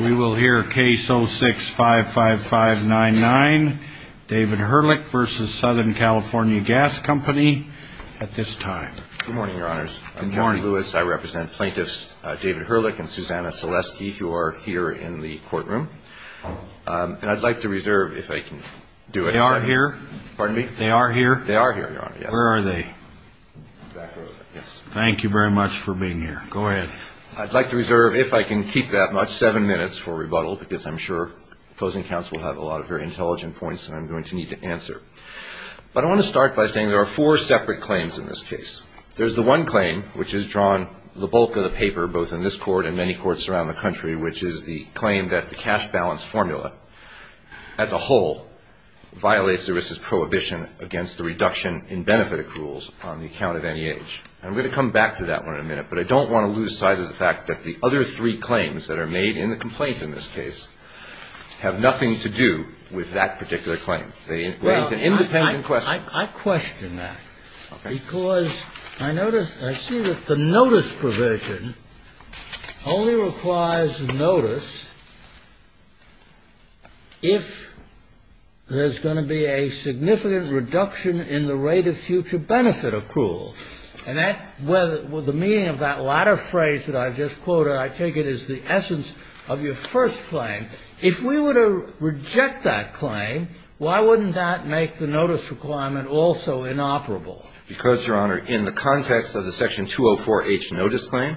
We will hear Case 06-55599, David Hurlic v. So. Cal. Gas Co. at this time. Good morning, Your Honors. Good morning. I'm Jeffrey Lewis. I represent Plaintiffs David Hurlic and Susanna Selesky, who are here in the courtroom. And I'd like to reserve, if I can do it. They are here? Pardon me? They are here? They are here, Your Honor, yes. Where are they? Back over there, yes. Thank you very much for being here. Go ahead. I'd like to reserve, if I can keep that much, seven minutes for rebuttal, because I'm sure opposing counts will have a lot of very intelligent points that I'm going to need to answer. But I want to start by saying there are four separate claims in this case. There's the one claim, which is drawn the bulk of the paper, both in this court and many courts around the country, which is the claim that the cash balance formula, as a whole, violates the risks prohibition against the reduction in benefit accruals on the account of any age. And I'm going to come back to that one in a minute, but I don't want to lose sight of the fact that the other three claims that are made in the complaints in this case have nothing to do with that particular claim. It's an independent question. I question that. Okay. Because I notice, I see that the notice provision only requires notice if there's going to be a significant reduction in the rate of future benefit accruals. And that, the meaning of that latter phrase that I just quoted, I take it is the essence of your first claim. If we were to reject that claim, why wouldn't that make the notice requirement also inoperable? Because, Your Honor, in the context of the Section 204H notice claim,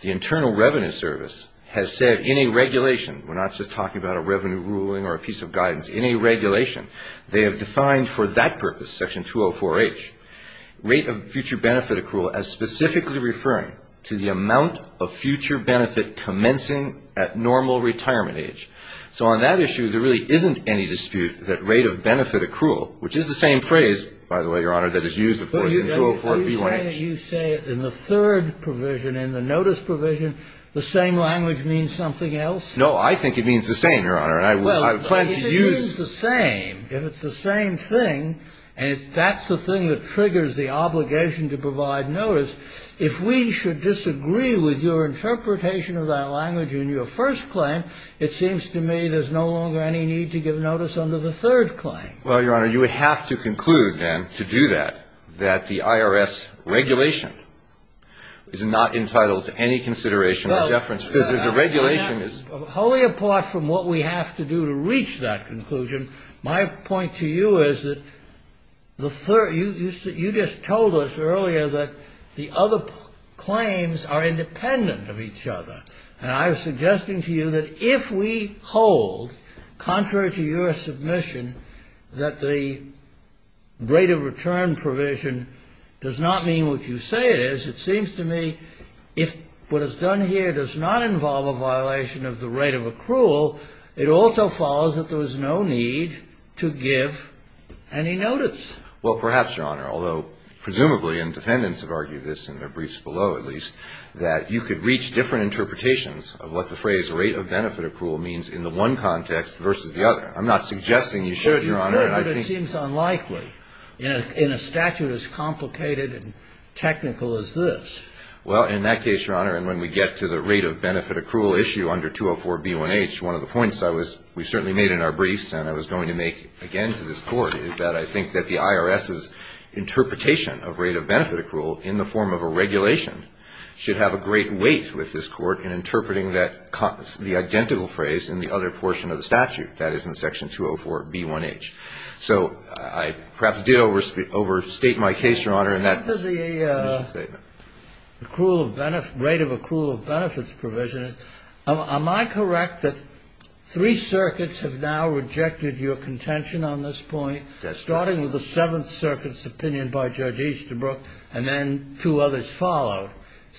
the Internal Revenue Service has said in a regulation, we're not just talking about a revenue ruling or a piece of guidance, in a regulation, they have defined for that purpose, Section 204H, rate of future benefit accrual as specifically referring to the amount of future benefit commencing at normal retirement age. So on that issue, there really isn't any dispute that rate of benefit accrual, which is the same phrase, by the way, Your Honor, that is used, of course, in 204BH. Are you saying that you say in the third provision, in the notice provision, the same language means something else? No, I think it means the same, Your Honor. Well, if it means the same, if it's the same thing, and if that's the thing that triggers the obligation to provide notice, if we should disagree with your interpretation of that language in your first claim, it seems to me there's no longer any need to give notice under the third claim. Well, Your Honor, you would have to conclude, then, to do that, that the IRS regulation is not entitled to any consideration or deference because there's a regulation. Now, wholly apart from what we have to do to reach that conclusion, my point to you is that you just told us earlier that the other claims are independent of each other. And I was suggesting to you that if we hold, contrary to your submission, that the rate of return provision does not mean what you say it is, it seems to me if what is done here does not involve a violation of the rate of accrual, it also follows that there is no need to give any notice. Well, perhaps, Your Honor, although presumably, and defendants have argued this in their briefs below, at least, that you could reach different interpretations of what the phrase rate of benefit accrual means in the one context versus the other. But it seems unlikely in a statute as complicated and technical as this. Well, in that case, Your Honor, and when we get to the rate of benefit accrual issue under 204B1H, one of the points we certainly made in our briefs and I was going to make again to this Court is that I think that the IRS's interpretation of rate of benefit accrual in the form of a regulation should have a great weight with this Court in interpreting that the identical phrase in the other portion of the statute, that is, in Section 204B1H. So I perhaps did overstate my case, Your Honor, and that's a condition statement. The rate of accrual of benefits provision, am I correct that three circuits have now rejected your contention on this point, starting with the Seventh Circuit's opinion by Judge Easterbrook and then two others followed?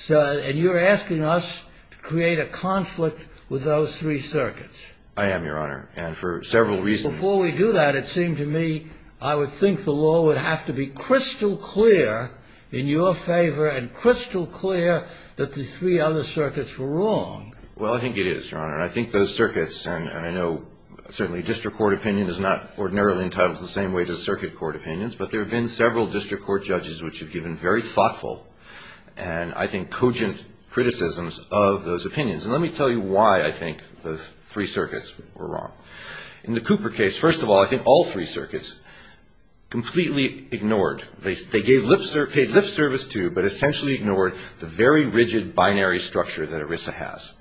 And you're asking us to create a conflict with those three circuits? I am, Your Honor, and for several reasons. Before we do that, it seemed to me I would think the law would have to be crystal clear in your favor and crystal clear that the three other circuits were wrong. Well, I think it is, Your Honor, and I think those circuits, and I know certainly district court opinion is not ordinarily entitled to the same weight as circuit court opinions, but there have been several district court judges which have given very thoughtful and, I think, cogent criticisms of those opinions. And let me tell you why I think the three circuits were wrong. In the Cooper case, first of all, I think all three circuits completely ignored, they paid lip service to but essentially ignored the very rigid binary structure that ERISA has.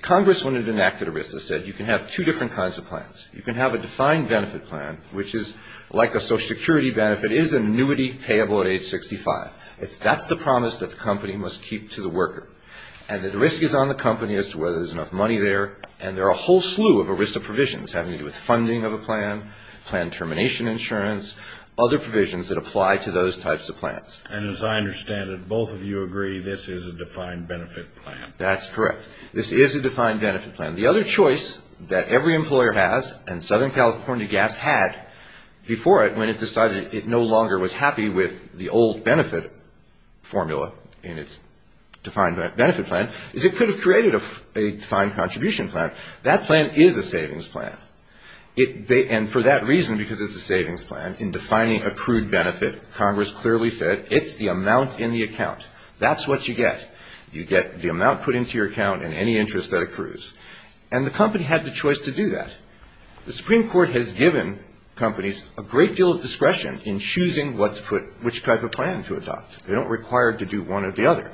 Congress, when it enacted ERISA, said you can have two different kinds of plans. You can have a defined benefit plan, which is like a Social Security benefit, is an annuity payable at age 65. That's the promise that the company must keep to the worker. And the risk is on the company as to whether there's enough money there, and there are a whole slew of ERISA provisions having to do with funding of a plan, plan termination insurance, other provisions that apply to those types of plans. And as I understand it, both of you agree this is a defined benefit plan. That's correct. This is a defined benefit plan. The other choice that every employer has and Southern California Gas had before it, when it decided it no longer was happy with the old benefit formula in its defined benefit plan, is it could have created a defined contribution plan. That plan is a savings plan. And for that reason, because it's a savings plan, in defining accrued benefit, Congress clearly said it's the amount in the account. That's what you get. You get the amount put into your account and any interest that accrues. And the company had the choice to do that. The Supreme Court has given companies a great deal of discretion in choosing which type of plan to adopt. They don't require to do one or the other.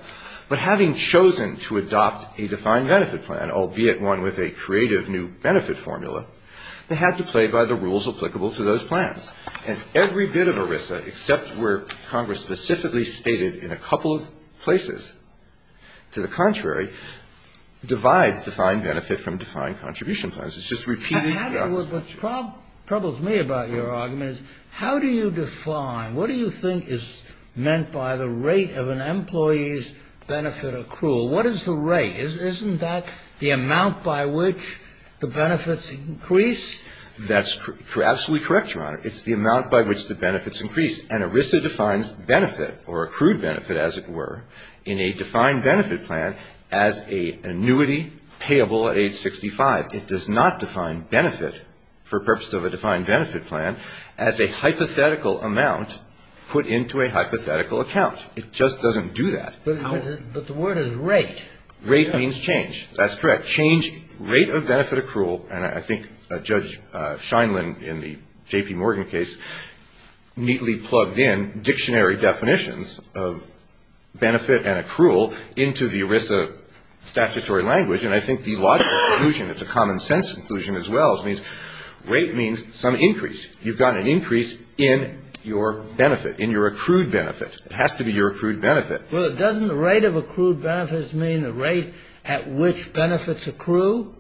But having chosen to adopt a defined benefit plan, albeit one with a creative new benefit formula, they had to play by the rules applicable to those plans. And every bit of ERISA, except where Congress specifically stated in a couple of places to the contrary, divides defined benefit from defined contribution plans. It's just repeated. What troubles me about your argument is how do you define, what do you think is meant by the rate of an employee's benefit accrual? What is the rate? Isn't that the amount by which the benefits increase? That's absolutely correct, Your Honor. It's the amount by which the benefits increase. And ERISA defines benefit or accrued benefit, as it were, in a defined benefit plan as an annuity payable at age 65. It does not define benefit for purpose of a defined benefit plan as a hypothetical amount put into a hypothetical account. It just doesn't do that. But the word is rate. Rate means change. That's correct. Change rate of benefit accrual, and I think Judge Scheinlin in the J.P. Morgan case neatly plugged in dictionary definitions of benefit and accrual into the ERISA statutory language, and I think the logical conclusion, it's a common sense conclusion as well, it means rate means some increase. You've got an increase in your benefit, in your accrued benefit. It has to be your accrued benefit. Well, doesn't the rate of accrued benefits mean the rate at which benefits accrue?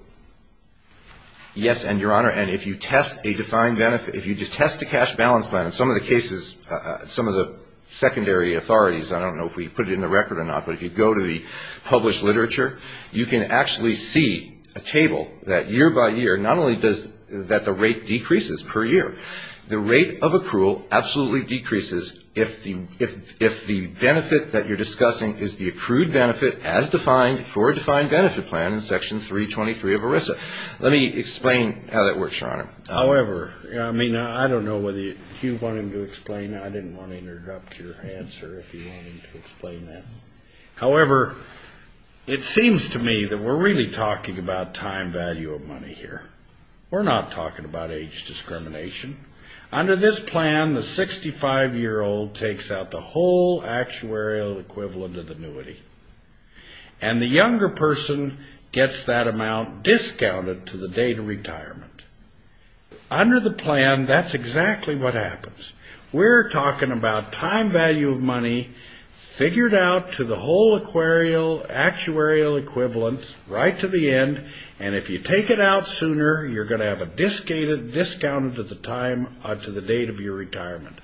Yes, and, Your Honor, and if you test a defined benefit, if you test a cash balance plan, in some of the cases, some of the secondary authorities, I don't know if we put it in the record or not, but if you go to the published literature, you can actually see a table that year by year, not only does that the rate decreases per year, the rate of accrual absolutely decreases if the benefit that you're discussing is the accrued benefit as defined for a defined benefit plan in Section 323 of ERISA. Let me explain how that works, Your Honor. However, I mean, I don't know whether you want him to explain. I didn't want to interrupt your answer if you want him to explain that. However, it seems to me that we're really talking about time value of money here. We're not talking about age discrimination. Under this plan, the 65-year-old takes out the whole actuarial equivalent of the annuity, and the younger person gets that amount discounted to the date of retirement. Under the plan, that's exactly what happens. We're talking about time value of money figured out to the whole actuarial equivalent right to the end, and if you take it out sooner, you're going to have it discounted to the date of your retirement.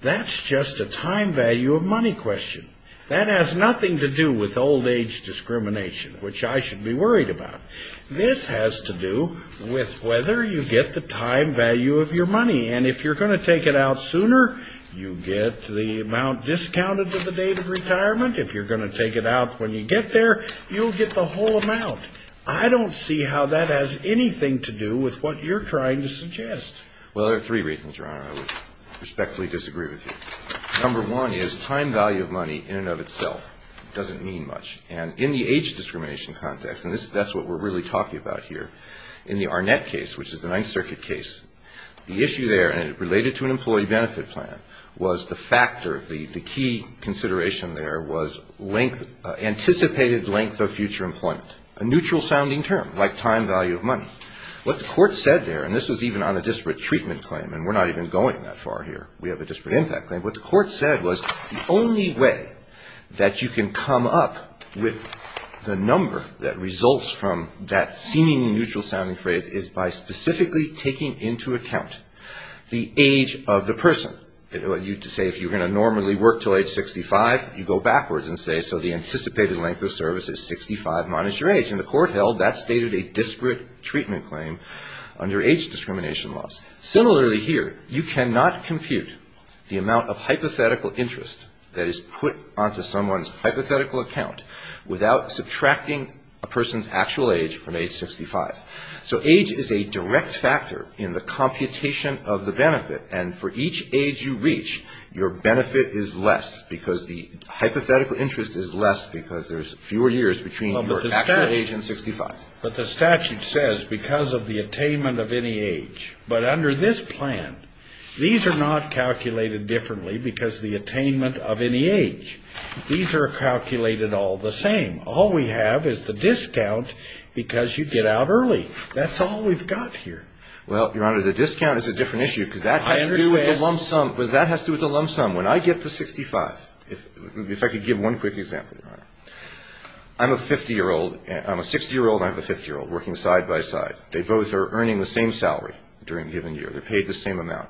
That's just a time value of money question. That has nothing to do with old age discrimination, which I should be worried about. This has to do with whether you get the time value of your money, and if you're going to take it out sooner, you get the amount discounted to the date of retirement. If you're going to take it out when you get there, you'll get the whole amount. I don't see how that has anything to do with what you're trying to suggest. Well, there are three reasons, Your Honor. I would respectfully disagree with you. Number one is time value of money in and of itself doesn't mean much, and in the age discrimination context, and that's what we're really talking about here, in the Arnett case, which is the Ninth Circuit case, the issue there, and it related to an employee benefit plan, was the factor. The key consideration there was anticipated length of future employment, a neutral-sounding term like time value of money. What the court said there, and this was even on a disparate treatment claim, and we're not even going that far here. We have a disparate impact claim. What the court said was the only way that you can come up with the number that results from that seemingly neutral-sounding phrase is by specifically taking into account the age of the person. If you were going to normally work until age 65, you go backwards and say, so the anticipated length of service is 65 minus your age, and the court held that stated a disparate treatment claim under age discrimination laws. Similarly here, you cannot compute the amount of hypothetical interest that is put onto someone's hypothetical account without subtracting a person's actual age from age 65. So age is a direct factor in the computation of the benefit, and for each age you reach, your benefit is less because the hypothetical interest is less because there's fewer years between your actual age and 65. But the statute says because of the attainment of any age, but under this plan, these are not calculated differently because of the attainment of any age. These are calculated all the same. All we have is the discount because you get out early. That's all we've got here. Well, Your Honor, the discount is a different issue because that has to do with the lump sum. When I get to 65, if I could give one quick example, Your Honor. I'm a 60-year-old and I have a 50-year-old working side by side. They both are earning the same salary during a given year. They're paid the same amount.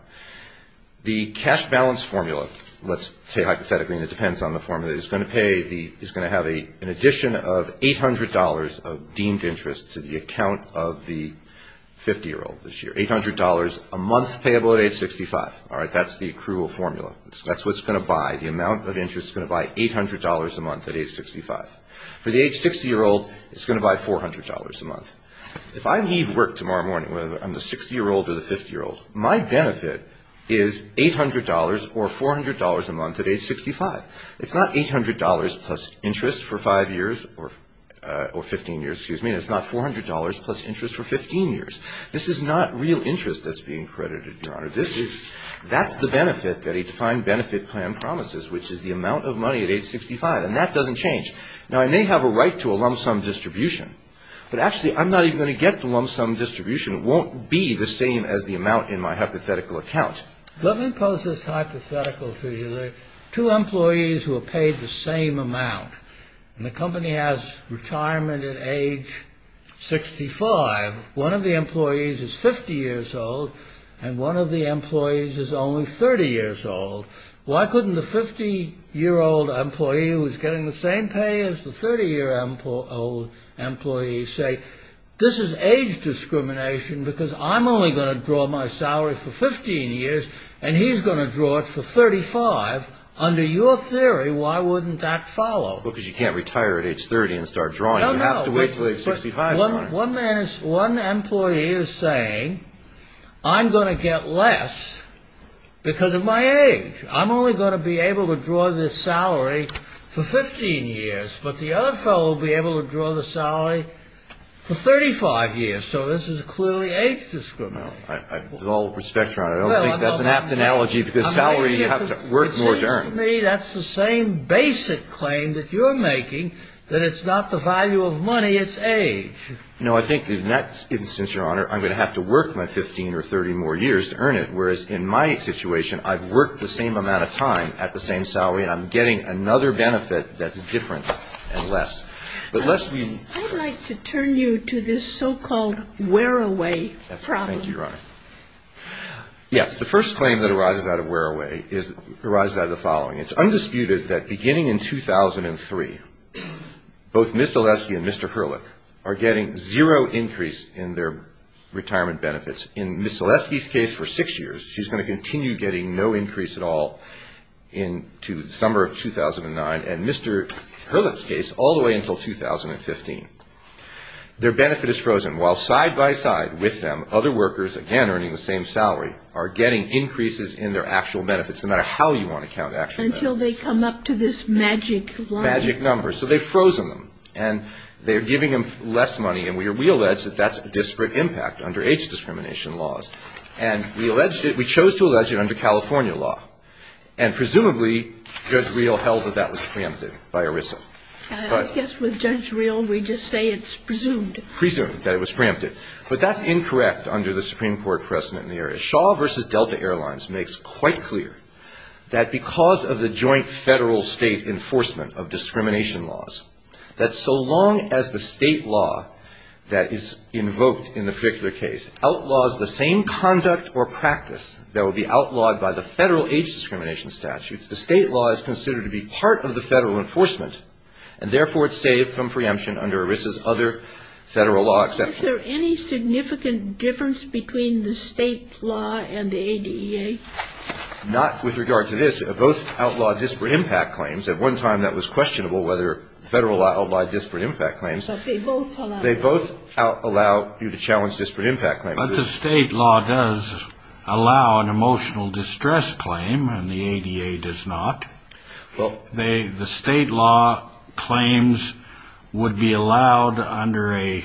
The cash balance formula, let's say hypothetically, and it depends on the formula, is going to have an addition of $800 of deemed interest to the account of the 50-year-old this year, $800 a month payable at age 65. That's the accrual formula. That's what's going to buy. The amount of interest is going to buy $800 a month at age 65. For the age 60-year-old, it's going to buy $400 a month. If I leave work tomorrow morning, whether I'm the 60-year-old or the 50-year-old, my benefit is $800 or $400 a month at age 65. It's not $800 plus interest for 5 years or 15 years, excuse me. It's not $400 plus interest for 15 years. This is not real interest that's being credited, Your Honor. That's the benefit that a defined benefit plan promises, which is the amount of money at age 65. And that doesn't change. Now, I may have a right to a lump sum distribution, but actually, I'm not even going to get the lump sum distribution. It won't be the same as the amount in my hypothetical account. Let me pose this hypothetical to you. There are two employees who are paid the same amount, and the company has retirement at age 65. One of the employees is 50 years old, and one of the employees is only 30 years old. Why couldn't the 50-year-old employee, who is getting the same pay as the 30-year-old employee, say, this is age discrimination because I'm only going to draw my salary for 15 years, and he's going to draw it for 35? Under your theory, why wouldn't that follow? Well, because you can't retire at age 30 and start drawing. No, no. You have to wait until age 65, Your Honor. One employee is saying, I'm going to get less because of my age. I'm only going to be able to draw this salary for 15 years, but the other fellow will be able to draw the salary for 35 years. So this is clearly age discrimination. With all due respect, Your Honor, I don't think that's an apt analogy, because salary you have to work more to earn. It seems to me that's the same basic claim that you're making, that it's not the value of money, it's age. No, I think in that instance, Your Honor, I'm going to have to work my 15 or 30 more years to earn it, whereas in my situation I've worked the same amount of time at the same salary, and I'm getting another benefit that's different and less. I'd like to turn you to this so-called wear-away problem. Thank you, Your Honor. Yes, the first claim that arises out of wear-away arises out of the following. It's undisputed that beginning in 2003, both Ms. Zaleski and Mr. Hurlick are getting zero increase in their retirement benefits. In Ms. Zaleski's case, for six years, she's going to continue getting no increase at all into the summer of 2009, and Mr. Hurlick's case, all the way until 2015. Their benefit is frozen, while side-by-side with them, other workers, again, earning the same salary, are getting increases in their actual benefits, no matter how you want to count actual benefits. Until they come up to this magic line. Magic number. So they've frozen them, and they're giving them less money, and we allege that that's a disparate impact under age discrimination laws. And we chose to allege it under California law. And presumably, Judge Reel held that that was preempted by ERISA. I guess with Judge Reel, we just say it's presumed. Presumed that it was preempted. But that's incorrect under the Supreme Court precedent in the area. Shaw v. Delta Airlines makes quite clear that because of the joint Federal-State enforcement of discrimination laws, that so long as the State law that is invoked in the particular case outlaws the same conduct or practice that would be outlawed by the Federal age discrimination statutes, the State law is considered to be part of the Federal enforcement, and therefore it's saved from preemption under ERISA's other Federal law exception. Is there any significant difference between the State law and the ADEA? Not with regard to this. Both outlaw disparate impact claims. At one time, that was questionable, whether Federal law outlawed disparate impact claims. But they both allow it. They both allow you to challenge disparate impact claims. But the State law does allow an emotional distress claim, and the ADEA does not. The State law claims would be allowed under a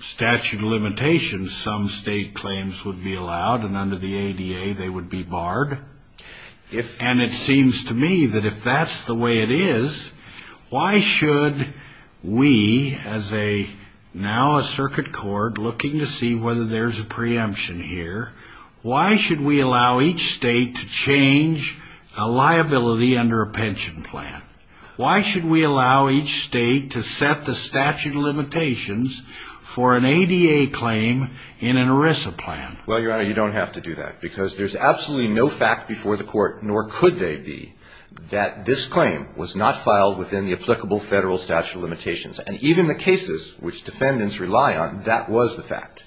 statute of limitations. Some State claims would be allowed, and under the ADEA, they would be barred. And it seems to me that if that's the way it is, why should we, as now a circuit court looking to see whether there's a preemption here, why should we allow each State to change a liability under a pension plan? Why should we allow each State to set the statute of limitations for an ADEA claim in an ERISA plan? Well, Your Honor, you don't have to do that. Because there's absolutely no fact before the Court, nor could they be, that this claim was not filed within the applicable Federal statute of limitations. And even the cases which defendants rely on, that was the fact.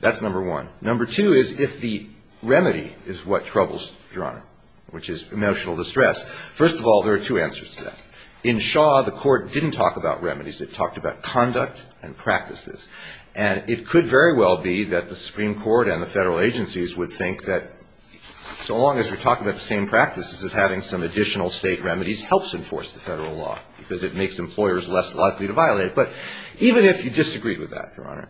That's number one. Number two is if the remedy is what troubles, Your Honor, which is emotional distress. First of all, there are two answers to that. In Shaw, the Court didn't talk about remedies. It talked about conduct and practices. And it could very well be that the Supreme Court and the Federal agencies would think that, so long as we're talking about the same practices, that having some additional State remedies helps enforce the Federal law, because it makes employers less likely to violate it. But even if you disagreed with that, Your Honor,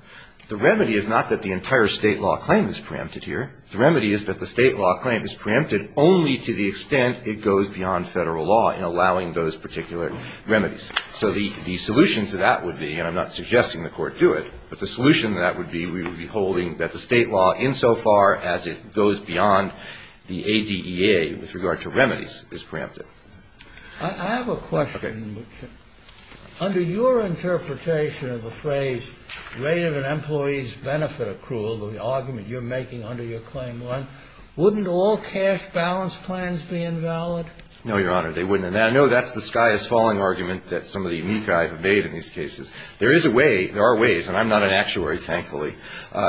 the remedy is not that the entire State law claim is preempted here. The remedy is that the State law claim is preempted only to the extent it goes beyond Federal law in allowing those particular remedies. So the solution to that would be, and I'm not suggesting the Court do it, but the solution to that would be we would be holding that the State law, insofar as it goes beyond the ADEA with regard to remedies, is preempted. I have a question. Okay. Under your interpretation of the phrase, rate of an employee's benefit accrual, the argument you're making under your claim one, wouldn't all cash balance plans be invalid? No, Your Honor. They wouldn't. And I know that's the sky is falling argument that some of the amici have made in these cases. There is a way, there are ways, and I'm not an actuary, thankfully,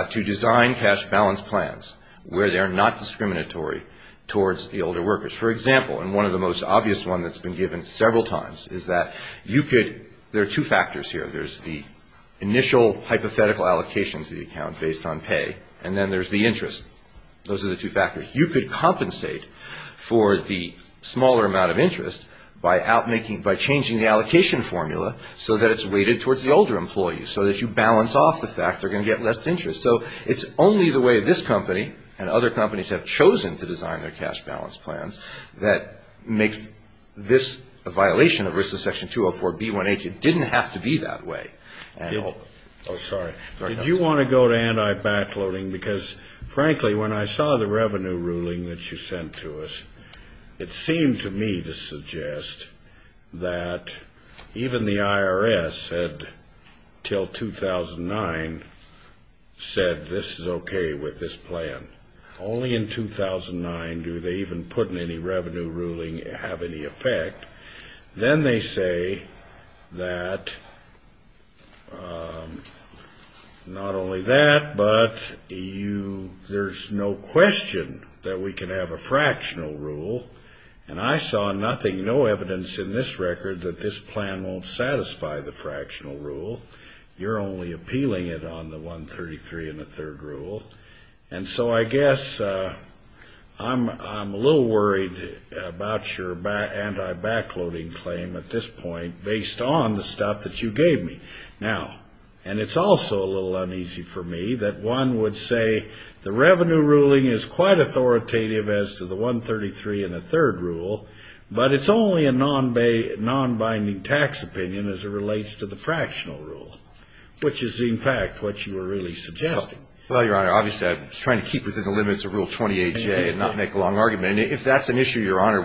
to design cash balance plans where they are not discriminatory towards the older workers. For example, and one of the most obvious ones that's been given several times, is that you could, there are two factors here. There's the initial hypothetical allocation to the account based on pay, and then there's the interest. Those are the two factors. You could compensate for the smaller amount of interest by changing the allocation formula so that it's weighted towards the older employees, so that you balance off the fact they're going to get less interest. So it's only the way this company and other companies have chosen to design their cash balance plans that makes this a violation of risks of Section 204B1H. It didn't have to be that way. Oh, sorry. Did you want to go to anti-backloading? Because, frankly, when I saw the revenue ruling that you sent to us, it seemed to me to suggest that even the IRS had, until 2009, said this is okay with this plan. Only in 2009 do they even put in any revenue ruling have any effect. Then they say that not only that, but there's no question that we can have a fractional rule, and I saw nothing, no evidence in this record that this plan won't satisfy the fractional rule. You're only appealing it on the 133 and the third rule. And so I guess I'm a little worried about your anti-backloading claim at this point, based on the stuff that you gave me. Now, and it's also a little uneasy for me that one would say the revenue ruling is quite authoritative as to the 133 and the third rule, but it's only a non-binding tax opinion as it relates to the fractional rule, which is, in fact, what you were really suggesting. Well, Your Honor, obviously I was trying to keep within the limits of Rule 28J and not make a long argument. And if that's an issue, Your Honor,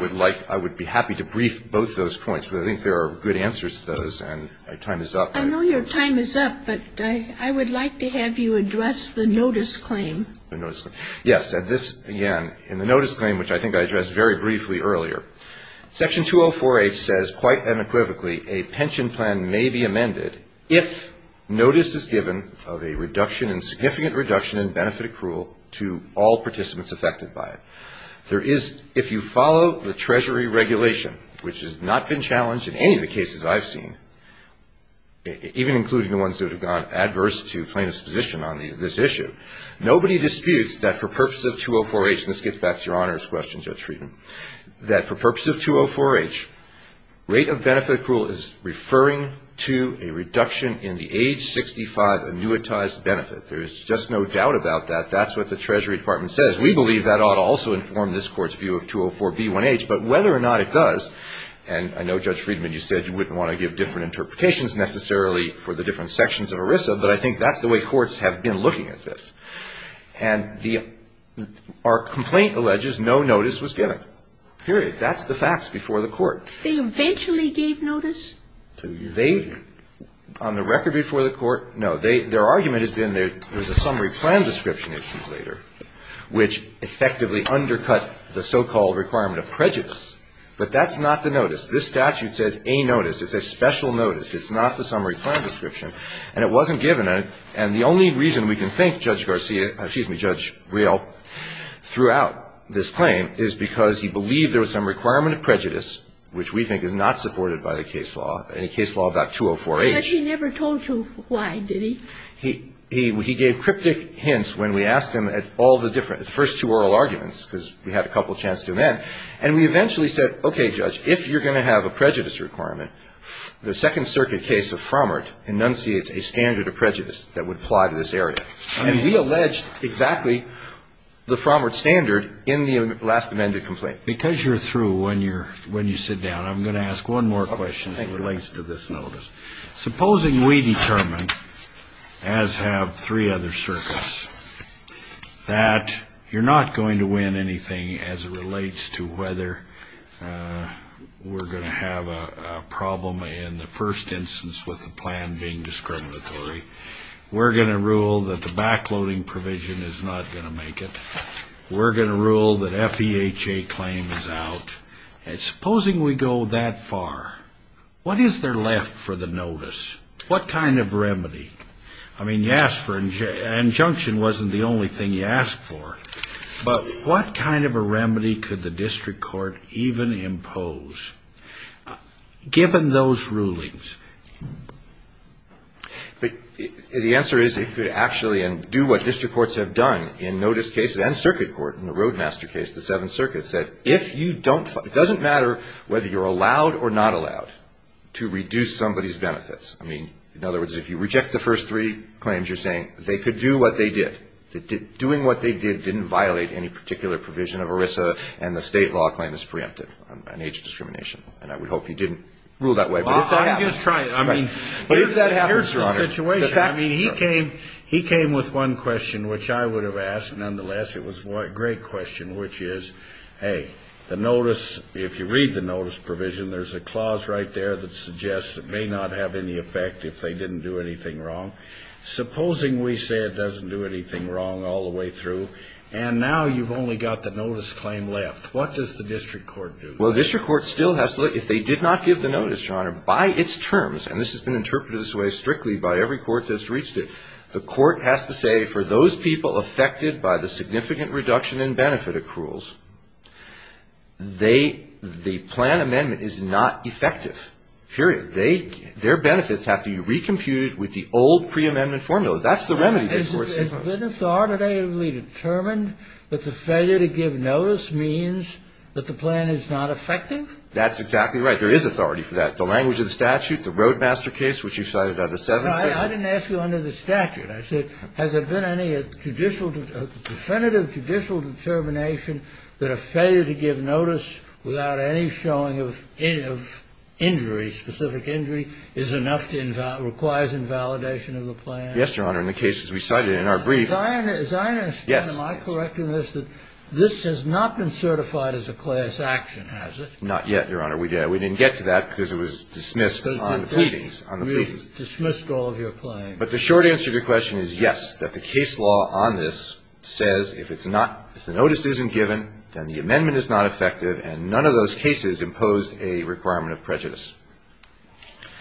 I would be happy to brief both those points, but I think there are good answers to those, and my time is up. I know your time is up, but I would like to have you address the notice claim. The notice claim. Yes, and this, again, in the notice claim, which I think I addressed very briefly earlier, Section 204H says, quite unequivocally, a pension plan may be amended if notice is given of a significant reduction in benefit accrual to all participants affected by it. If you follow the Treasury regulation, which has not been challenged in any of the cases I've seen, even including the ones that have gone adverse to plaintiff's position on this issue, nobody disputes that for purpose of 204H, and this gets back to Your Honor's question, Judge Friedman, that for purpose of 204H, rate of benefit accrual is referring to a reduction in the age 65 annuitized benefit. There's just no doubt about that. That's what the Treasury Department says. We believe that ought to also inform this Court's view of 204B1H, but whether or not it does, and I know, Judge Friedman, you said you wouldn't want to give different interpretations necessarily for the different sections of ERISA, but I think that's the way courts have been looking at this. And our complaint alleges no notice was given, period. That's the facts before the Court. They eventually gave notice? They, on the record before the Court, no. Their argument has been there's a summary plan description issue later, which effectively undercut the so-called requirement of prejudice. But that's not the notice. This statute says a notice. It's a special notice. It's not the summary plan description, and it wasn't given. And the only reason we can think Judge Garcia, excuse me, Judge Real, throughout this claim is because he believed there was some requirement of prejudice, which we think is not supported by the case law, any case law about 204H. But he never told you why, did he? He gave cryptic hints when we asked him at all the different, the first two oral arguments, because we had a couple of chance to amend. And we eventually said, okay, Judge, if you're going to have a prejudice requirement, the Second Circuit case of Frommert enunciates a standard of prejudice that would apply to this area. And we alleged exactly the Frommert standard in the last amended complaint. Because you're through when you're, when you sit down, I'm going to ask one more question that relates to this notice. Supposing we determine, as have three other circuits, that you're not going to win anything as it relates to whether we're going to have a problem in the first instance with the plan being discriminatory. We're going to rule that the backloading provision is not going to make it. We're going to rule that FEHA claim is out. And supposing we go that far, what is there left for the notice? What kind of remedy? I mean, you asked for, an injunction wasn't the only thing you asked for. But what kind of a remedy could the district court even impose, given those rulings? But the answer is it could actually do what district courts have done in notice cases and circuit court. In the Roadmaster case, the Seventh Circuit said, if you don't, it doesn't matter whether you're allowed or not allowed to reduce somebody's benefits. I mean, in other words, if you reject the first three claims, you're saying they could do what they did. Doing what they did didn't violate any particular provision of ERISA, and the state law claim is preempted on age discrimination. And I would hope you didn't rule that way. I'm just trying. I mean, here's the situation. I mean, he came with one question, which I would have asked. Nonetheless, it was a great question, which is, hey, the notice, if you read the notice provision, there's a clause right there that suggests it may not have any effect if they didn't do anything wrong. Supposing we say it doesn't do anything wrong all the way through, and now you've only got the notice claim left. What does the district court do? Well, the district court still has to look. If they did not give the notice, Your Honor, by its terms, and this has been interpreted this way strictly by every court that's reached it, the court has to say, for those people affected by the significant reduction in benefit accruals, the plan amendment is not effective, period. Their benefits have to be recomputed with the old preamendment formula. That's the remedy. Has it been authoritatively determined that the failure to give notice means that the plan is not effective? That's exactly right. There is authority for that. The language of the statute, the Roadmaster case, which you cited under 770. I didn't ask you under the statute. I said, has there been any judicial, definitive judicial determination that a failure to give notice without any showing of injury, specific injury, is enough to require invalidation of the plan? Yes, Your Honor. In the cases we cited in our brief. As I understand it, am I correct in this that this has not been certified as a class action, has it? Not yet, Your Honor. We didn't get to that because it was dismissed on the pleadings. It was dismissed all of your claims. But the short answer to your question is yes, that the case law on this says if it's not, if the notice isn't given, then the amendment is not effective and none of those cases impose a requirement of prejudice.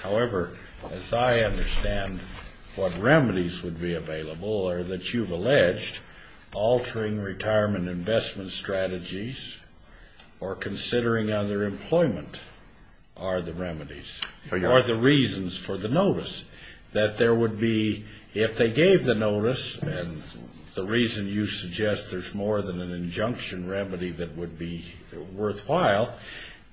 However, as I understand what remedies would be available or that you've alleged, altering retirement investment strategies or considering other employment are the remedies. Or the reasons for the notice. That there would be, if they gave the notice, and the reason you suggest there's more than an injunction remedy that would be worthwhile,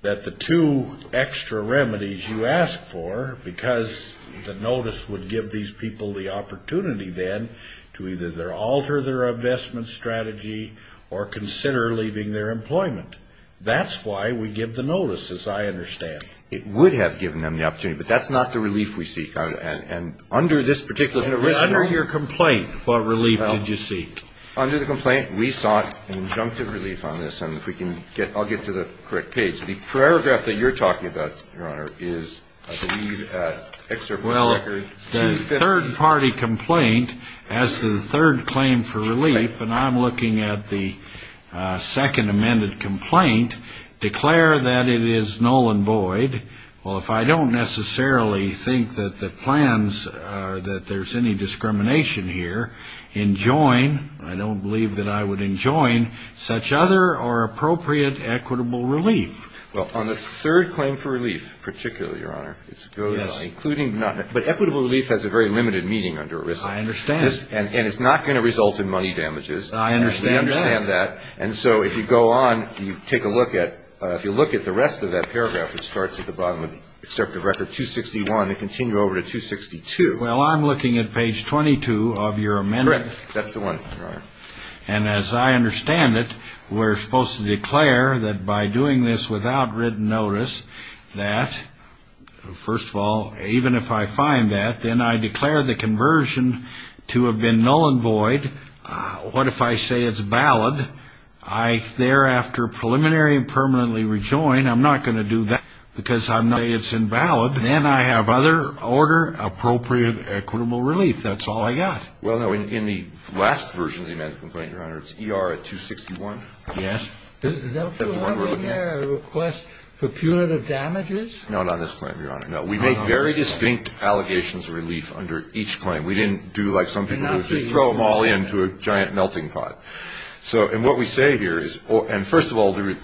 that the two extra remedies you ask for because the notice would give these people the opportunity then to either alter their investment strategy or consider leaving their employment. That's why we give the notice, as I understand. It would have given them the opportunity. But that's not the relief we seek. And under this particular situation. Under your complaint, what relief did you seek? Under the complaint, we sought injunctive relief on this. And if we can get, I'll get to the correct page. The paragraph that you're talking about, Your Honor, is, I believe, an excerpt from the record. Well, the third-party complaint as to the third claim for relief, and I'm looking at the second amended complaint, declare that it is null and void. Well, if I don't necessarily think that the plans, that there's any discrimination here, enjoin, I don't believe that I would enjoin, such other or appropriate equitable relief. Well, on the third claim for relief, particularly, Your Honor. Yes. But equitable relief has a very limited meaning under a risk. I understand. And it's not going to result in money damages. I understand that. We understand that. And so if you go on, you take a look at, if you look at the rest of that paragraph, which starts at the bottom of the excerpt of record 261 and continue over to 262. Well, I'm looking at page 22 of your amendment. That's the one, Your Honor. And as I understand it, we're supposed to declare that by doing this without written notice, that, first of all, even if I find that, then I declare the conversion to have been null and void. What if I say it's valid? I thereafter preliminary and permanently rejoin. I'm not going to do that because I'm not saying it's invalid. Then I have other order appropriate equitable relief. That's all I got. Well, no, in the last version of the amended complaint, Your Honor, it's ER 261. Yes. Does it have in there a request for punitive damages? No, not on this claim, Your Honor. No. We make very distinct allegations of relief under each claim. We didn't do like some people do, just throw them all into a giant melting pot. So and what we say here is, and first of all, there are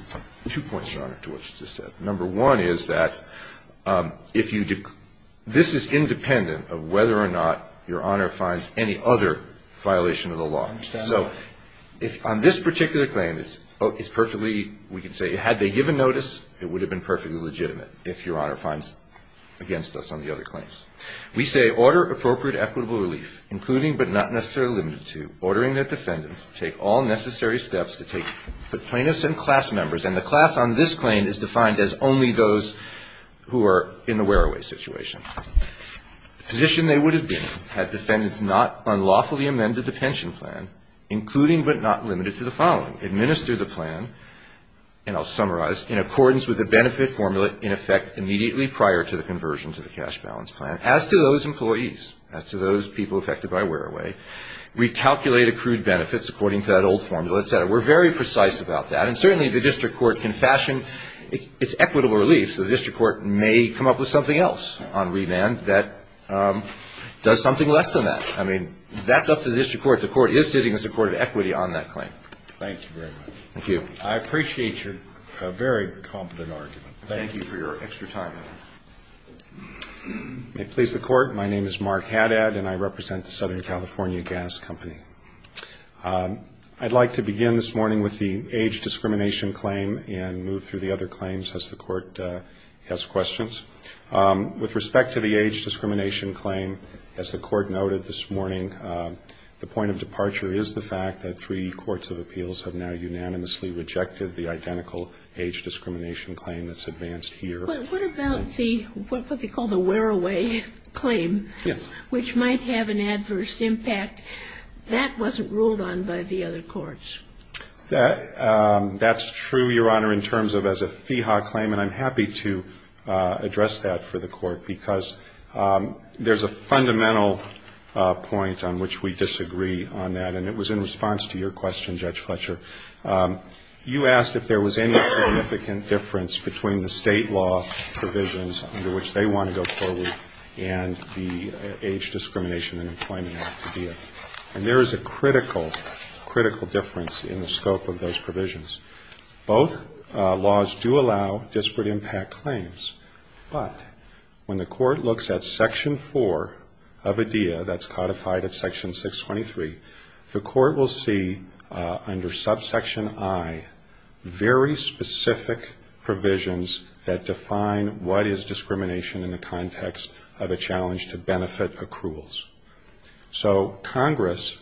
two points, Your Honor, to what you just said. Number one is that if you, this is independent of whether or not Your Honor finds any other violation of the law. I understand that. So on this particular claim, it's perfectly, we can say, had they given notice, it would have been perfectly legitimate if Your Honor finds against us on the other claims. We say order appropriate equitable relief, including but not necessarily limited to ordering that defendants take all necessary steps to take the plaintiffs and class members, and the class on this claim is defined as only those who are in the wear-away situation. The position they would have been had defendants not unlawfully amended the pension plan, including but not limited to the following. Administer the plan, and I'll summarize, in accordance with the benefit formula in effect immediately prior to the conversion to the cash balance plan. As to those employees, as to those people affected by wear-away, recalculate accrued benefits according to that old formula, et cetera. We're very precise about that, and certainly the district court can fashion its equitable relief, so the district court may come up with something else on remand that does something less than that. I mean, that's up to the district court. The court is sitting as a court of equity on that claim. Thank you very much. Thank you. I appreciate your very competent argument. Thank you for your extra time. May it please the Court, my name is Mark Haddad, and I represent the Southern California Gas Company. I'd like to begin this morning with the age discrimination claim and move through the other claims as the Court has questions. With respect to the age discrimination claim, as the Court noted this morning, the point of departure is the fact that three courts of appeals have now unanimously rejected the identical age discrimination claim that's advanced here. But what about the, what they call the wear-away claim, which might have an adverse impact? That wasn't ruled on by the other courts. That's true, Your Honor, in terms of as a FEHA claim, and I'm happy to address that for the Court, because there's a fundamental point on which we disagree on that, and it was in response to your question, Judge Fletcher. You asked if there was any significant difference between the state law provisions under which they want to go forward and the age discrimination and employment act, ADEA. And there is a critical, critical difference in the scope of those provisions. Both laws do allow disparate impact claims, but when the Court looks at Section 4 of ADEA, that's codified at Section 623, the Court will see, under subsection I, very specific provisions that define what is discrimination in the context of a challenge to benefit accruals. So Congress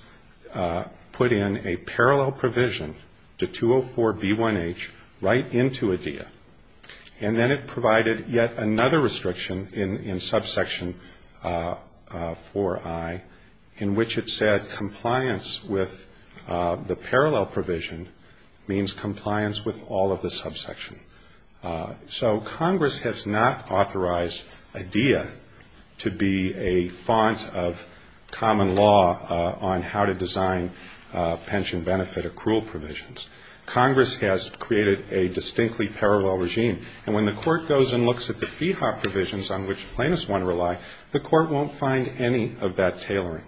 put in a parallel provision to 204B1H right into ADEA, and then it provided yet another restriction in subsection 4I, in which it said compliance with Section 4 of ADEA is not required. The parallel provision means compliance with all of the subsection. So Congress has not authorized ADEA to be a font of common law on how to design pension benefit accrual provisions. Congress has created a distinctly parallel regime, and when the Court goes and looks at the FEHA provisions on which plaintiffs want to rely, the Court won't find any of that tailoring.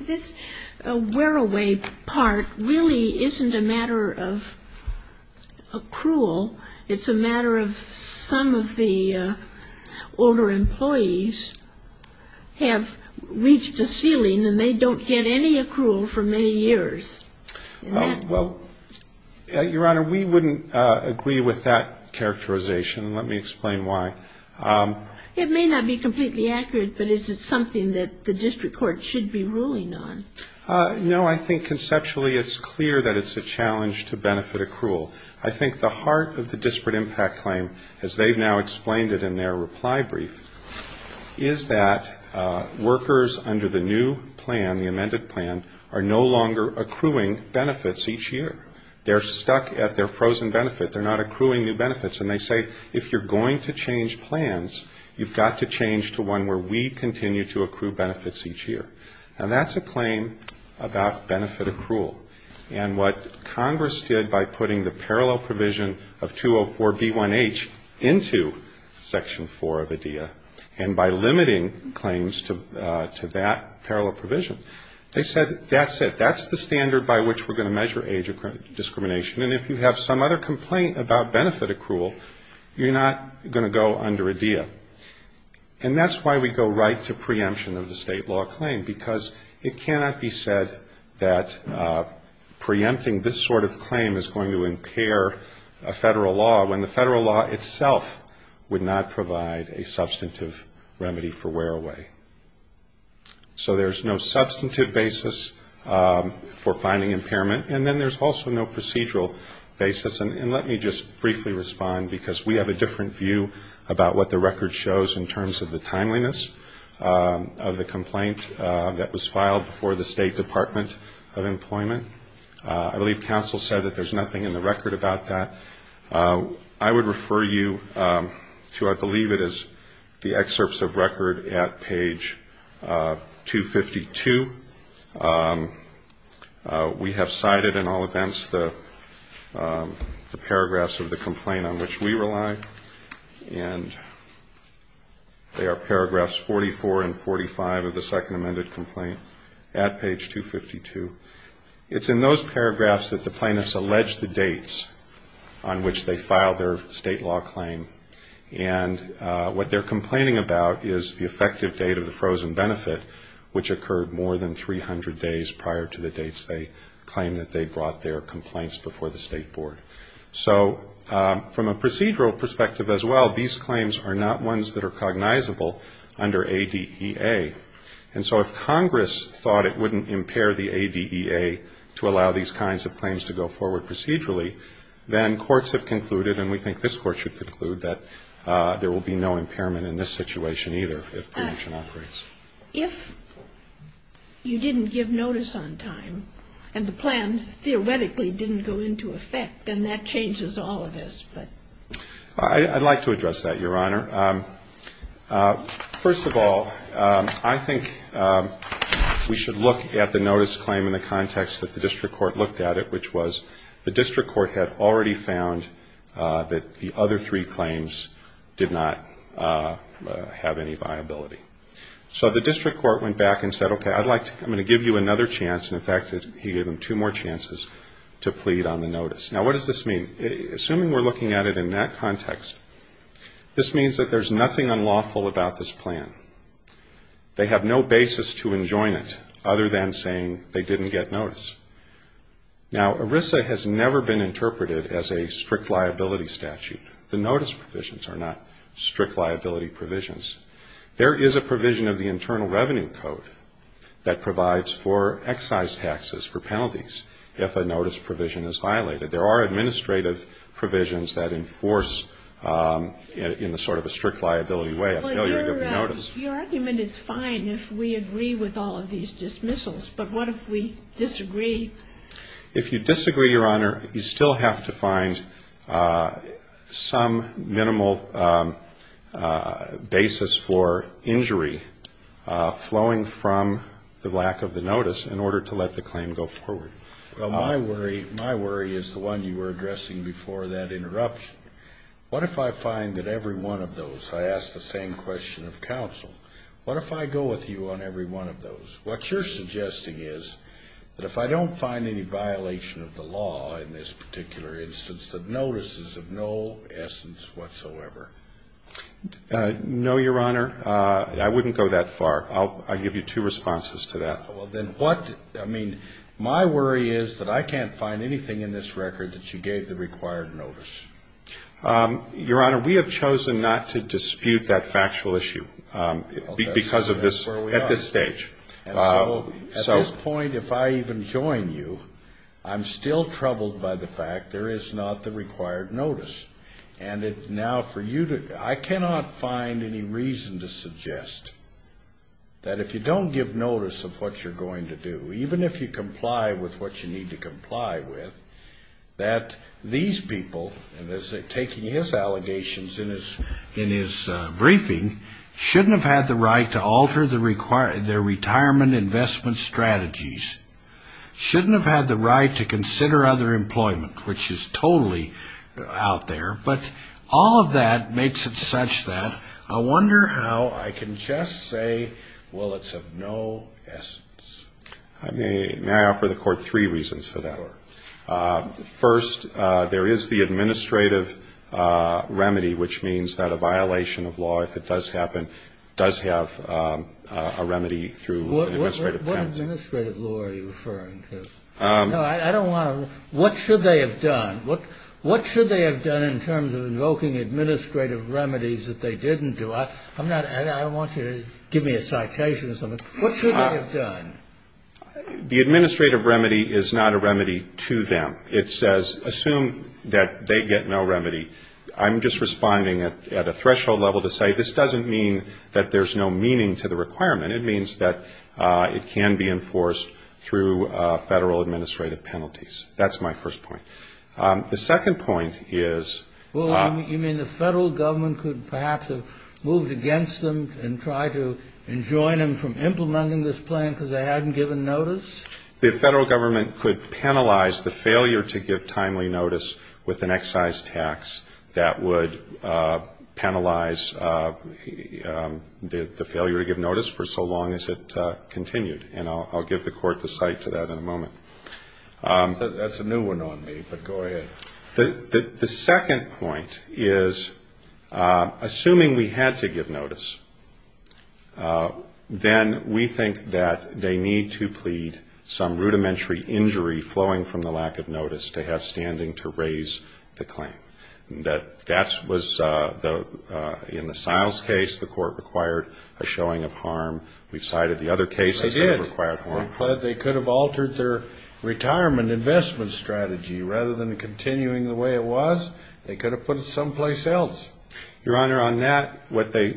This wear-away part really isn't a matter of accrual. It's a matter of some of the older employees have reached a ceiling and they don't get any accrual for many years. Well, Your Honor, we wouldn't agree with that characterization. Let me explain why. It may not be completely accurate, but is it something that the district court should be ruling on? No, I think conceptually it's clear that it's a challenge to benefit accrual. I think the heart of the disparate impact claim, as they've now explained it in their reply brief, is that workers under the new plan, the amended plan, are no longer accruing benefits each year. They're stuck at their frozen benefit. They're not accruing new benefits. And they say if you're going to change plans, you've got to change to one where we continue to accrue benefits each year. Now, that's a claim about benefit accrual. And what Congress did by putting the parallel provision of 204B1H into Section 4 of IDEA, and by limiting claims to that discrimination, and if you have some other complaint about benefit accrual, you're not going to go under IDEA. And that's why we go right to preemption of the state law claim, because it cannot be said that preempting this sort of claim is going to impair a federal law when the federal law itself would not provide a substantive remedy for wear away. So there's no substantive basis for finding impairment. And then there's also no procedural basis. And let me just briefly respond, because we have a different view about what the record shows in terms of the timeliness of the complaint that was filed before the State Department of Employment. I believe counsel said that there's nothing in the record about that. I would refer you to I believe it is the excerpts of record at page 252. We have cited in all events the paragraphs of the complaint on which we rely, and they are paragraphs 44 and 45 of the second amended complaint at page 252. It's in those paragraphs that the plaintiffs allege the dates on which they filed their state law claim, and what they're complaining about is the effective date of the frozen benefit, which occurred more than 300 days prior to the dates they claimed that they brought their complaints before the State Board. So from a procedural perspective as well, these claims are not ones that are cognizable under ADEA, and so if Congress thought it wouldn't impair the ADEA to allow these kinds of claims to go forward procedurally, then courts have concluded, and we think this Court should conclude, that there will be no impairment in this situation either if preemption operates. If you didn't give notice on time and the plan theoretically didn't go into effect, then that changes all of this. I'd like to address that, Your Honor. First of all, I think we should look at the notice claim in the context that the district court looked at it, which was the district court had already found that the other three claims did not have any viability. So the district court went back and said, okay, I'm going to give you another chance, and in fact he gave them two more chances to plead on the notice. Now, what does this mean? Assuming we're looking at it in that context, this means that there's nothing unlawful about this plan. They have no basis to enjoin it other than saying they didn't get notice. Now, ERISA has never been interpreted as a strict liability statute. The notice provisions are not strict liability provisions. There is a provision of the Internal Revenue Code that provides for excise taxes for penalties if a notice provision is violated. There are administrative provisions that enforce in sort of a strict liability way a failure to give notice. But your argument is fine if we agree with all of these dismissals. But what if we disagree? If you disagree, Your Honor, you still have to find some minimal basis for injury flowing from the lack of the notice in order to let the claim go forward. Well, my worry is the one you were addressing before that interruption. What if I find that every one of those, I ask the same question of counsel, what if I go with you on every one of those? What you're suggesting is that if I don't find any violation of the law in this particular instance, that notices of no essence whatsoever. No, Your Honor, I wouldn't go that far. I'll give you two responses to that. Well, then what, I mean, my worry is that I can't find anything in this record that you gave the required notice. Your Honor, we have chosen not to dispute that factual issue because of this, at this stage. So at this point, if I even join you, I'm still troubled by the fact there is not the required notice. And now for you to, I cannot find any reason to suggest that if you don't give notice of what you're going to do, even if you comply with what you need to comply with, that these people, taking his allegations in his briefing, shouldn't have had the right to alter their retirement investment strategies, shouldn't have had the right to consider other employment, which is totally out there. But all of that makes it such that I wonder how I can just say, well, it's of no essence. May I offer the Court three reasons for that? First, there is the administrative remedy, which means that a violation of law, if it does happen, does have a remedy through an administrative penalty. What administrative law are you referring to? No, I don't want to, what should they have done? What should they have done in terms of invoking administrative remedies that they didn't do? I don't want you to give me a citation or something. What should they have done? The administrative remedy is not a remedy to them. It says assume that they get no remedy. I'm just responding at a threshold level to say this doesn't mean that there's no meaning to the requirement. It means that it can be enforced through federal administrative penalties. That's my first point. The second point is... Well, you mean the federal government could perhaps have moved against them and tried to enjoin them from implementing this plan because they hadn't given notice? The federal government could penalize the failure to give timely notice with an excise tax that would penalize the failure to give notice for social security. That's a new one on me, but go ahead. The second point is assuming we had to give notice, then we think that they need to plead some rudimentary injury flowing from the lack of notice to have standing to raise the claim. That was in the Stiles case, the court required a showing of harm. We've cited the other cases that have required harm. But they could have altered their retirement investment strategy. Rather than continuing the way it was, they could have put it someplace else. Your Honor, on that, what they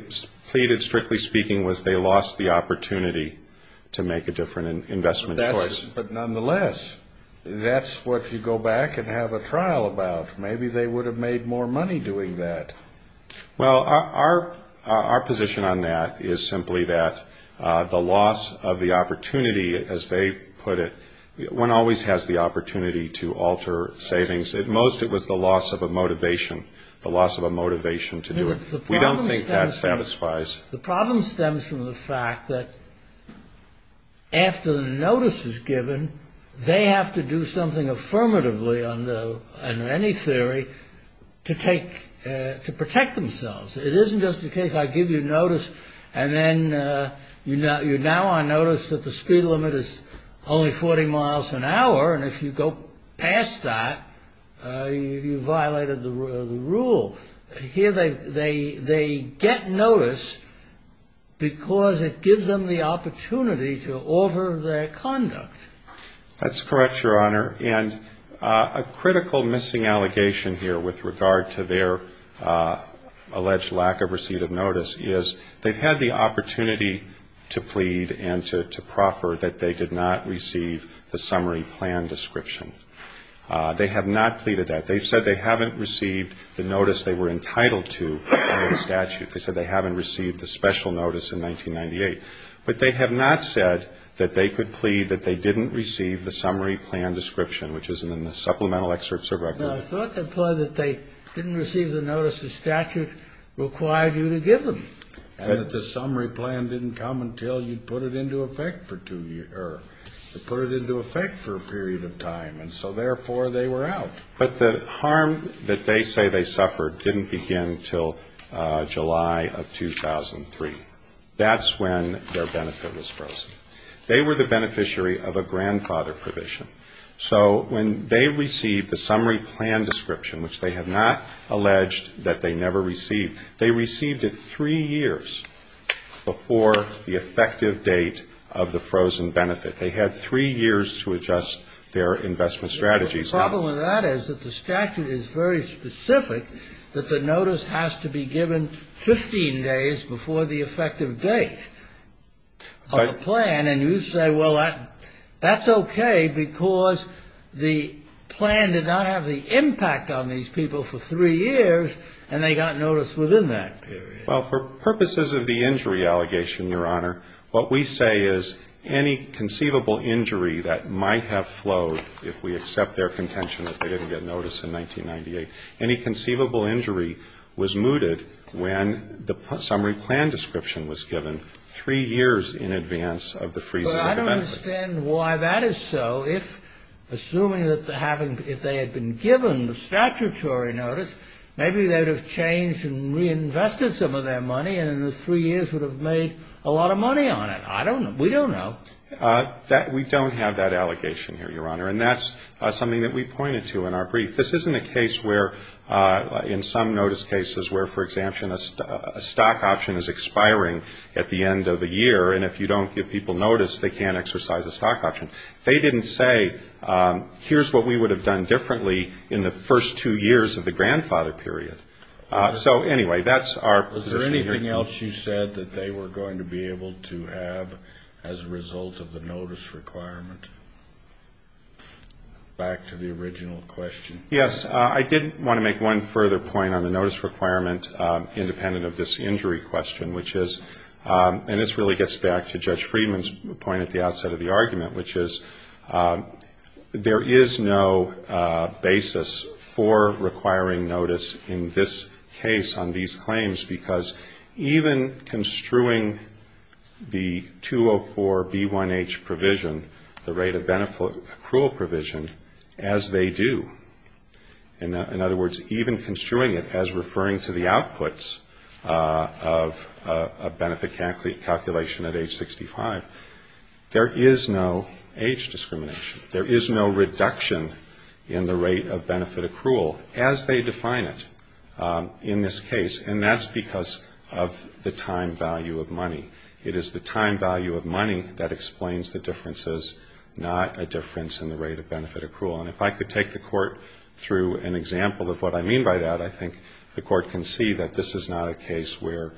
pleaded, strictly speaking, was they lost the opportunity to make a different investment choice. But nonetheless, that's what you go back and have a trial about. Maybe they would have made more money doing that. Well, our position on that is simply that the loss of the opportunity, as they put it, one always has the opportunity to alter savings. At most, it was the loss of a motivation, the loss of a motivation to do it. We don't think that satisfies... We don't think that satisfies the law. It isn't just a case, I give you notice, and then now I notice that the speed limit is only 40 miles an hour. And if you go past that, you violated the rule. Here they get notice because it gives them the opportunity to alter their conduct. That's correct, Your Honor. And a critical missing allegation here with regard to their alleged lack of receipt of notice is they've had the opportunity to plead and to proffer that they did not receive the summary plan description. They have not pleaded that. They've said they haven't received the notice they were entitled to under the statute. They said they haven't received the special notice in 1998. But they have not said that they could plead that they didn't receive the summary plan description, which is in the supplemental excerpts of record. No, I thought they pled that they didn't receive the notice the statute required you to give them. And that the summary plan didn't come until you put it into effect for two years, or put it into effect for a period of time. And so, therefore, they were out. But the harm that they say they suffered didn't begin until July of 2003. That's when their benefit was frozen. They were the beneficiary of a grandfather provision. So when they received the summary plan description, which they have not alleged that they never received, they received it three years before the effective date of the frozen benefit. They had three years to adjust their investment strategies. The problem with that is that the statute is very specific that the notice has to be given 15 days before the effective date of the plan. And you say, well, that's okay, because the plan did not have the impact on these people for three years, and they got notice within that period. Well, for purposes of the injury allegation, Your Honor, what we say is any conceivable injury that might have flowed, if we accept their contention that they didn't get notice in 1998, any conceivable injury was mooted when the summary plan description was given three years in advance of the freezing of the benefit. Well, I don't understand why that is so. If, assuming that they had been given the statutory notice, maybe they would have changed and reinvested some of their money and in the three years would have made a lot of money on it. I don't know. We don't know. We don't have that allegation here, Your Honor, and that's something that we pointed to in our brief. This isn't a case where in some notice cases where, for example, a stock option is expiring at the end of the year, and if you don't give people notice, they can't exercise a stock option. They didn't say, here's what we would have done differently in the first two years of the grandfather period. So, anyway, that's our position here. Is there anything else you said that they were going to be able to have as a result of the notice requirement? Back to the original question. Yes. I did want to make one further point on the notice requirement, independent of this injury question, which is, and this really gets back to Judge Friedman's point at the outset of the argument, which is there is no basis for requiring notice in this case on these claims, because even construing the 204B1H provision, the rate of benefit accrual provision, as they do, in other words, even construing it as referring to the outputs of a benefit calculation at age 65, there is no age discrimination. There is no reduction in the rate of benefit accrual as they define it in this case, and that's because of the time value of money. It is the time value of money that explains the differences, not a difference in the rate of benefit accrual. And if I could take the Court through an example of what I mean by that, I think the Court can see that this is not a case where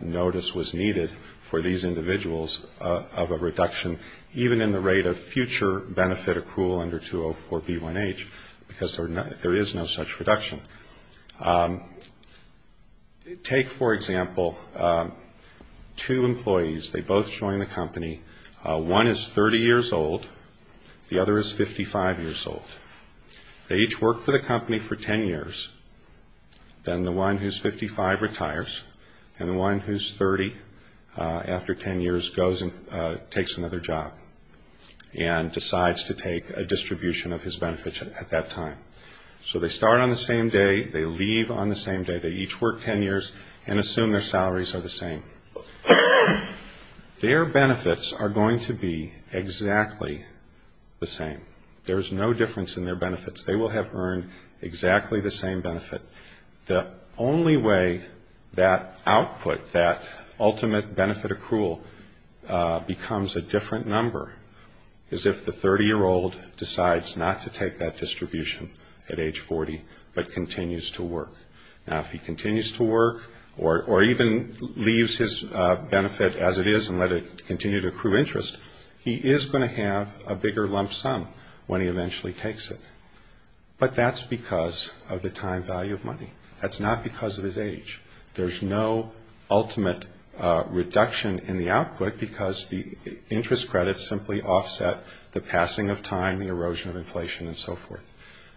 notice was needed for these individuals of a reduction, even in the rate of future benefit accrual under 204B1H, because there is no such reduction. Take, for example, two employees. They both join the company. One is 30 years old. The other is 55 years old. They each work for the company for 10 years. Then the one who's 55 retires, and the one who's 30, after 10 years, goes and takes another job, and decides to take a distribution of his benefits at that time. So they start on the same day, they leave on the same day, they each work 10 years, and assume their salaries are the same. Their benefits are going to be exactly the same. The only way that output, that ultimate benefit accrual, becomes a different number, is if the 30-year-old decides not to take that distribution at age 40, but continues to work. Now, if he continues to work, or even leaves his benefit as it is and let it continue to accrue interest, he is going to have a bigger lump sum when he eventually takes it. But that's because of the time value of money. That's not because of his age. There's no ultimate reduction in the output, because the interest credits simply offset the passing of time, the erosion of inflation, and so forth.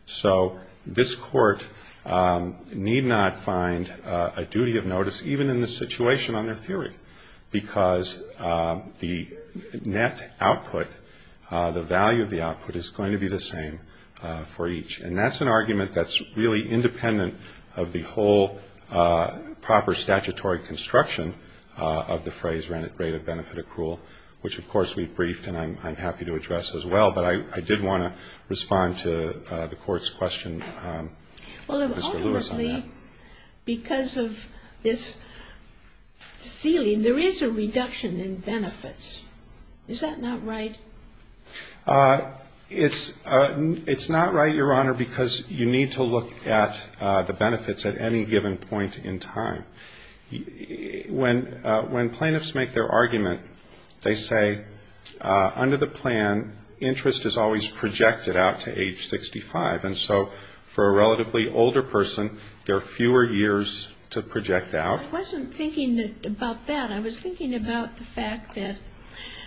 So this court need not find a duty of notice, even in this situation, on their theory, because the net output, the value of the output, is going to be the same for each. And that's an argument that's really independent of the whole proper statutory construction of the phrase rate of benefit accrual, which of course we briefed and I'm happy to address as well. But I did want to respond to the court's question, Mr. Lewis, on that. Because of this ceiling, there is a reduction in benefits. Is that not right? It's not right, Your Honor, because you need to look at the benefits at any given point in time. When plaintiffs make their argument, they say, under the plan, interest is always projected out to age 65. And so for a relatively older person, there are fewer years to project out. I wasn't thinking about that. I was thinking about the fact that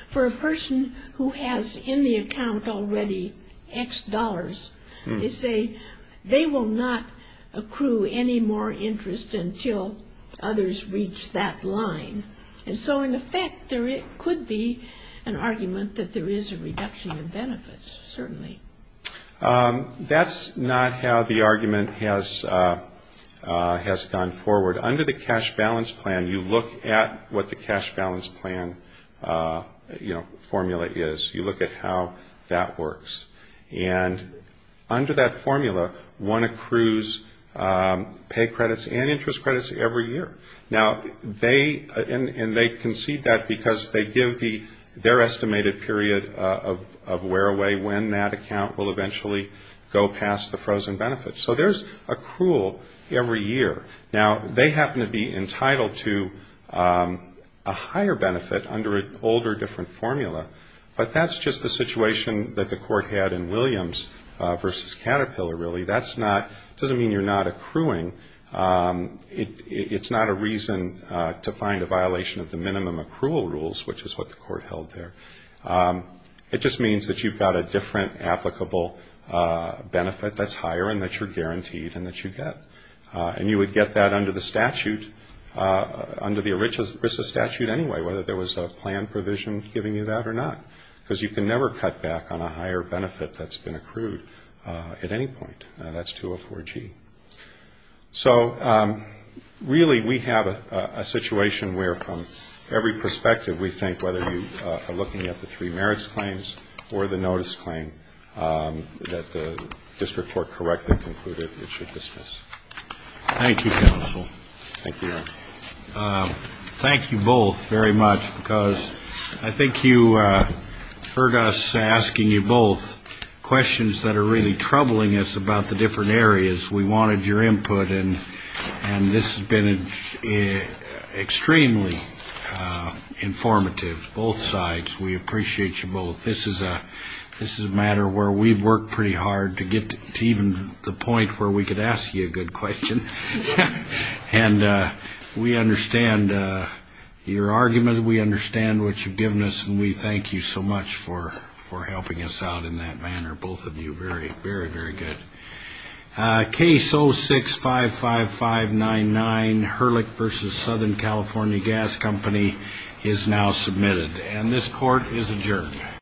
for a person who has in the account already X dollars, they say they will not accrue any more interest until others reach that line. And so in effect, there could be an argument that there is a reduction in benefits, certainly. But that's not how the argument has gone forward. Under the cash balance plan, you look at what the cash balance plan, you know, formula is. You look at how that works. And under that formula, one accrues pay credits and interest credits every year. Now, they, and they concede that because they give their estimated period of wear-away when that account will eventually go past the frozen benefits. So there's accrual every year. Now, they happen to be entitled to a higher benefit under an older, different formula. But that's just the situation that the court had in Williams v. Caterpillar, really. That's not, doesn't mean you're not accruing. It's not a reason to find a violation of the minimum accrual rules, which is what the court held there. It just means that you've got a different applicable benefit that's higher and that you're guaranteed and that you get. And you would get that under the statute, under the ERISA statute anyway, whether there was a plan provision giving you that or not. Because you can never cut back on a higher benefit that's been accrued at any point. Now, that's 204G. So, really, we have a situation where, from every perspective, we think whether you are looking at the three merits claims or the notice claim, that the district court correctly concluded it should dismiss. Thank you, counsel. Thank you both very much, because I think you heard us asking you both questions that are really troubling us about the different areas. We wanted your input, and this has been extremely informative, both sides. We appreciate you both. This is a matter where we've worked pretty hard to get to even the point where we could ask you a good question. And we understand your argument, we understand what you've given us, and we thank you so much for helping us out in that manner, both of you, very, very, very good. Case 0655599, Hurlick v. Southern California Gas Company, is now submitted, and this court is adjourned.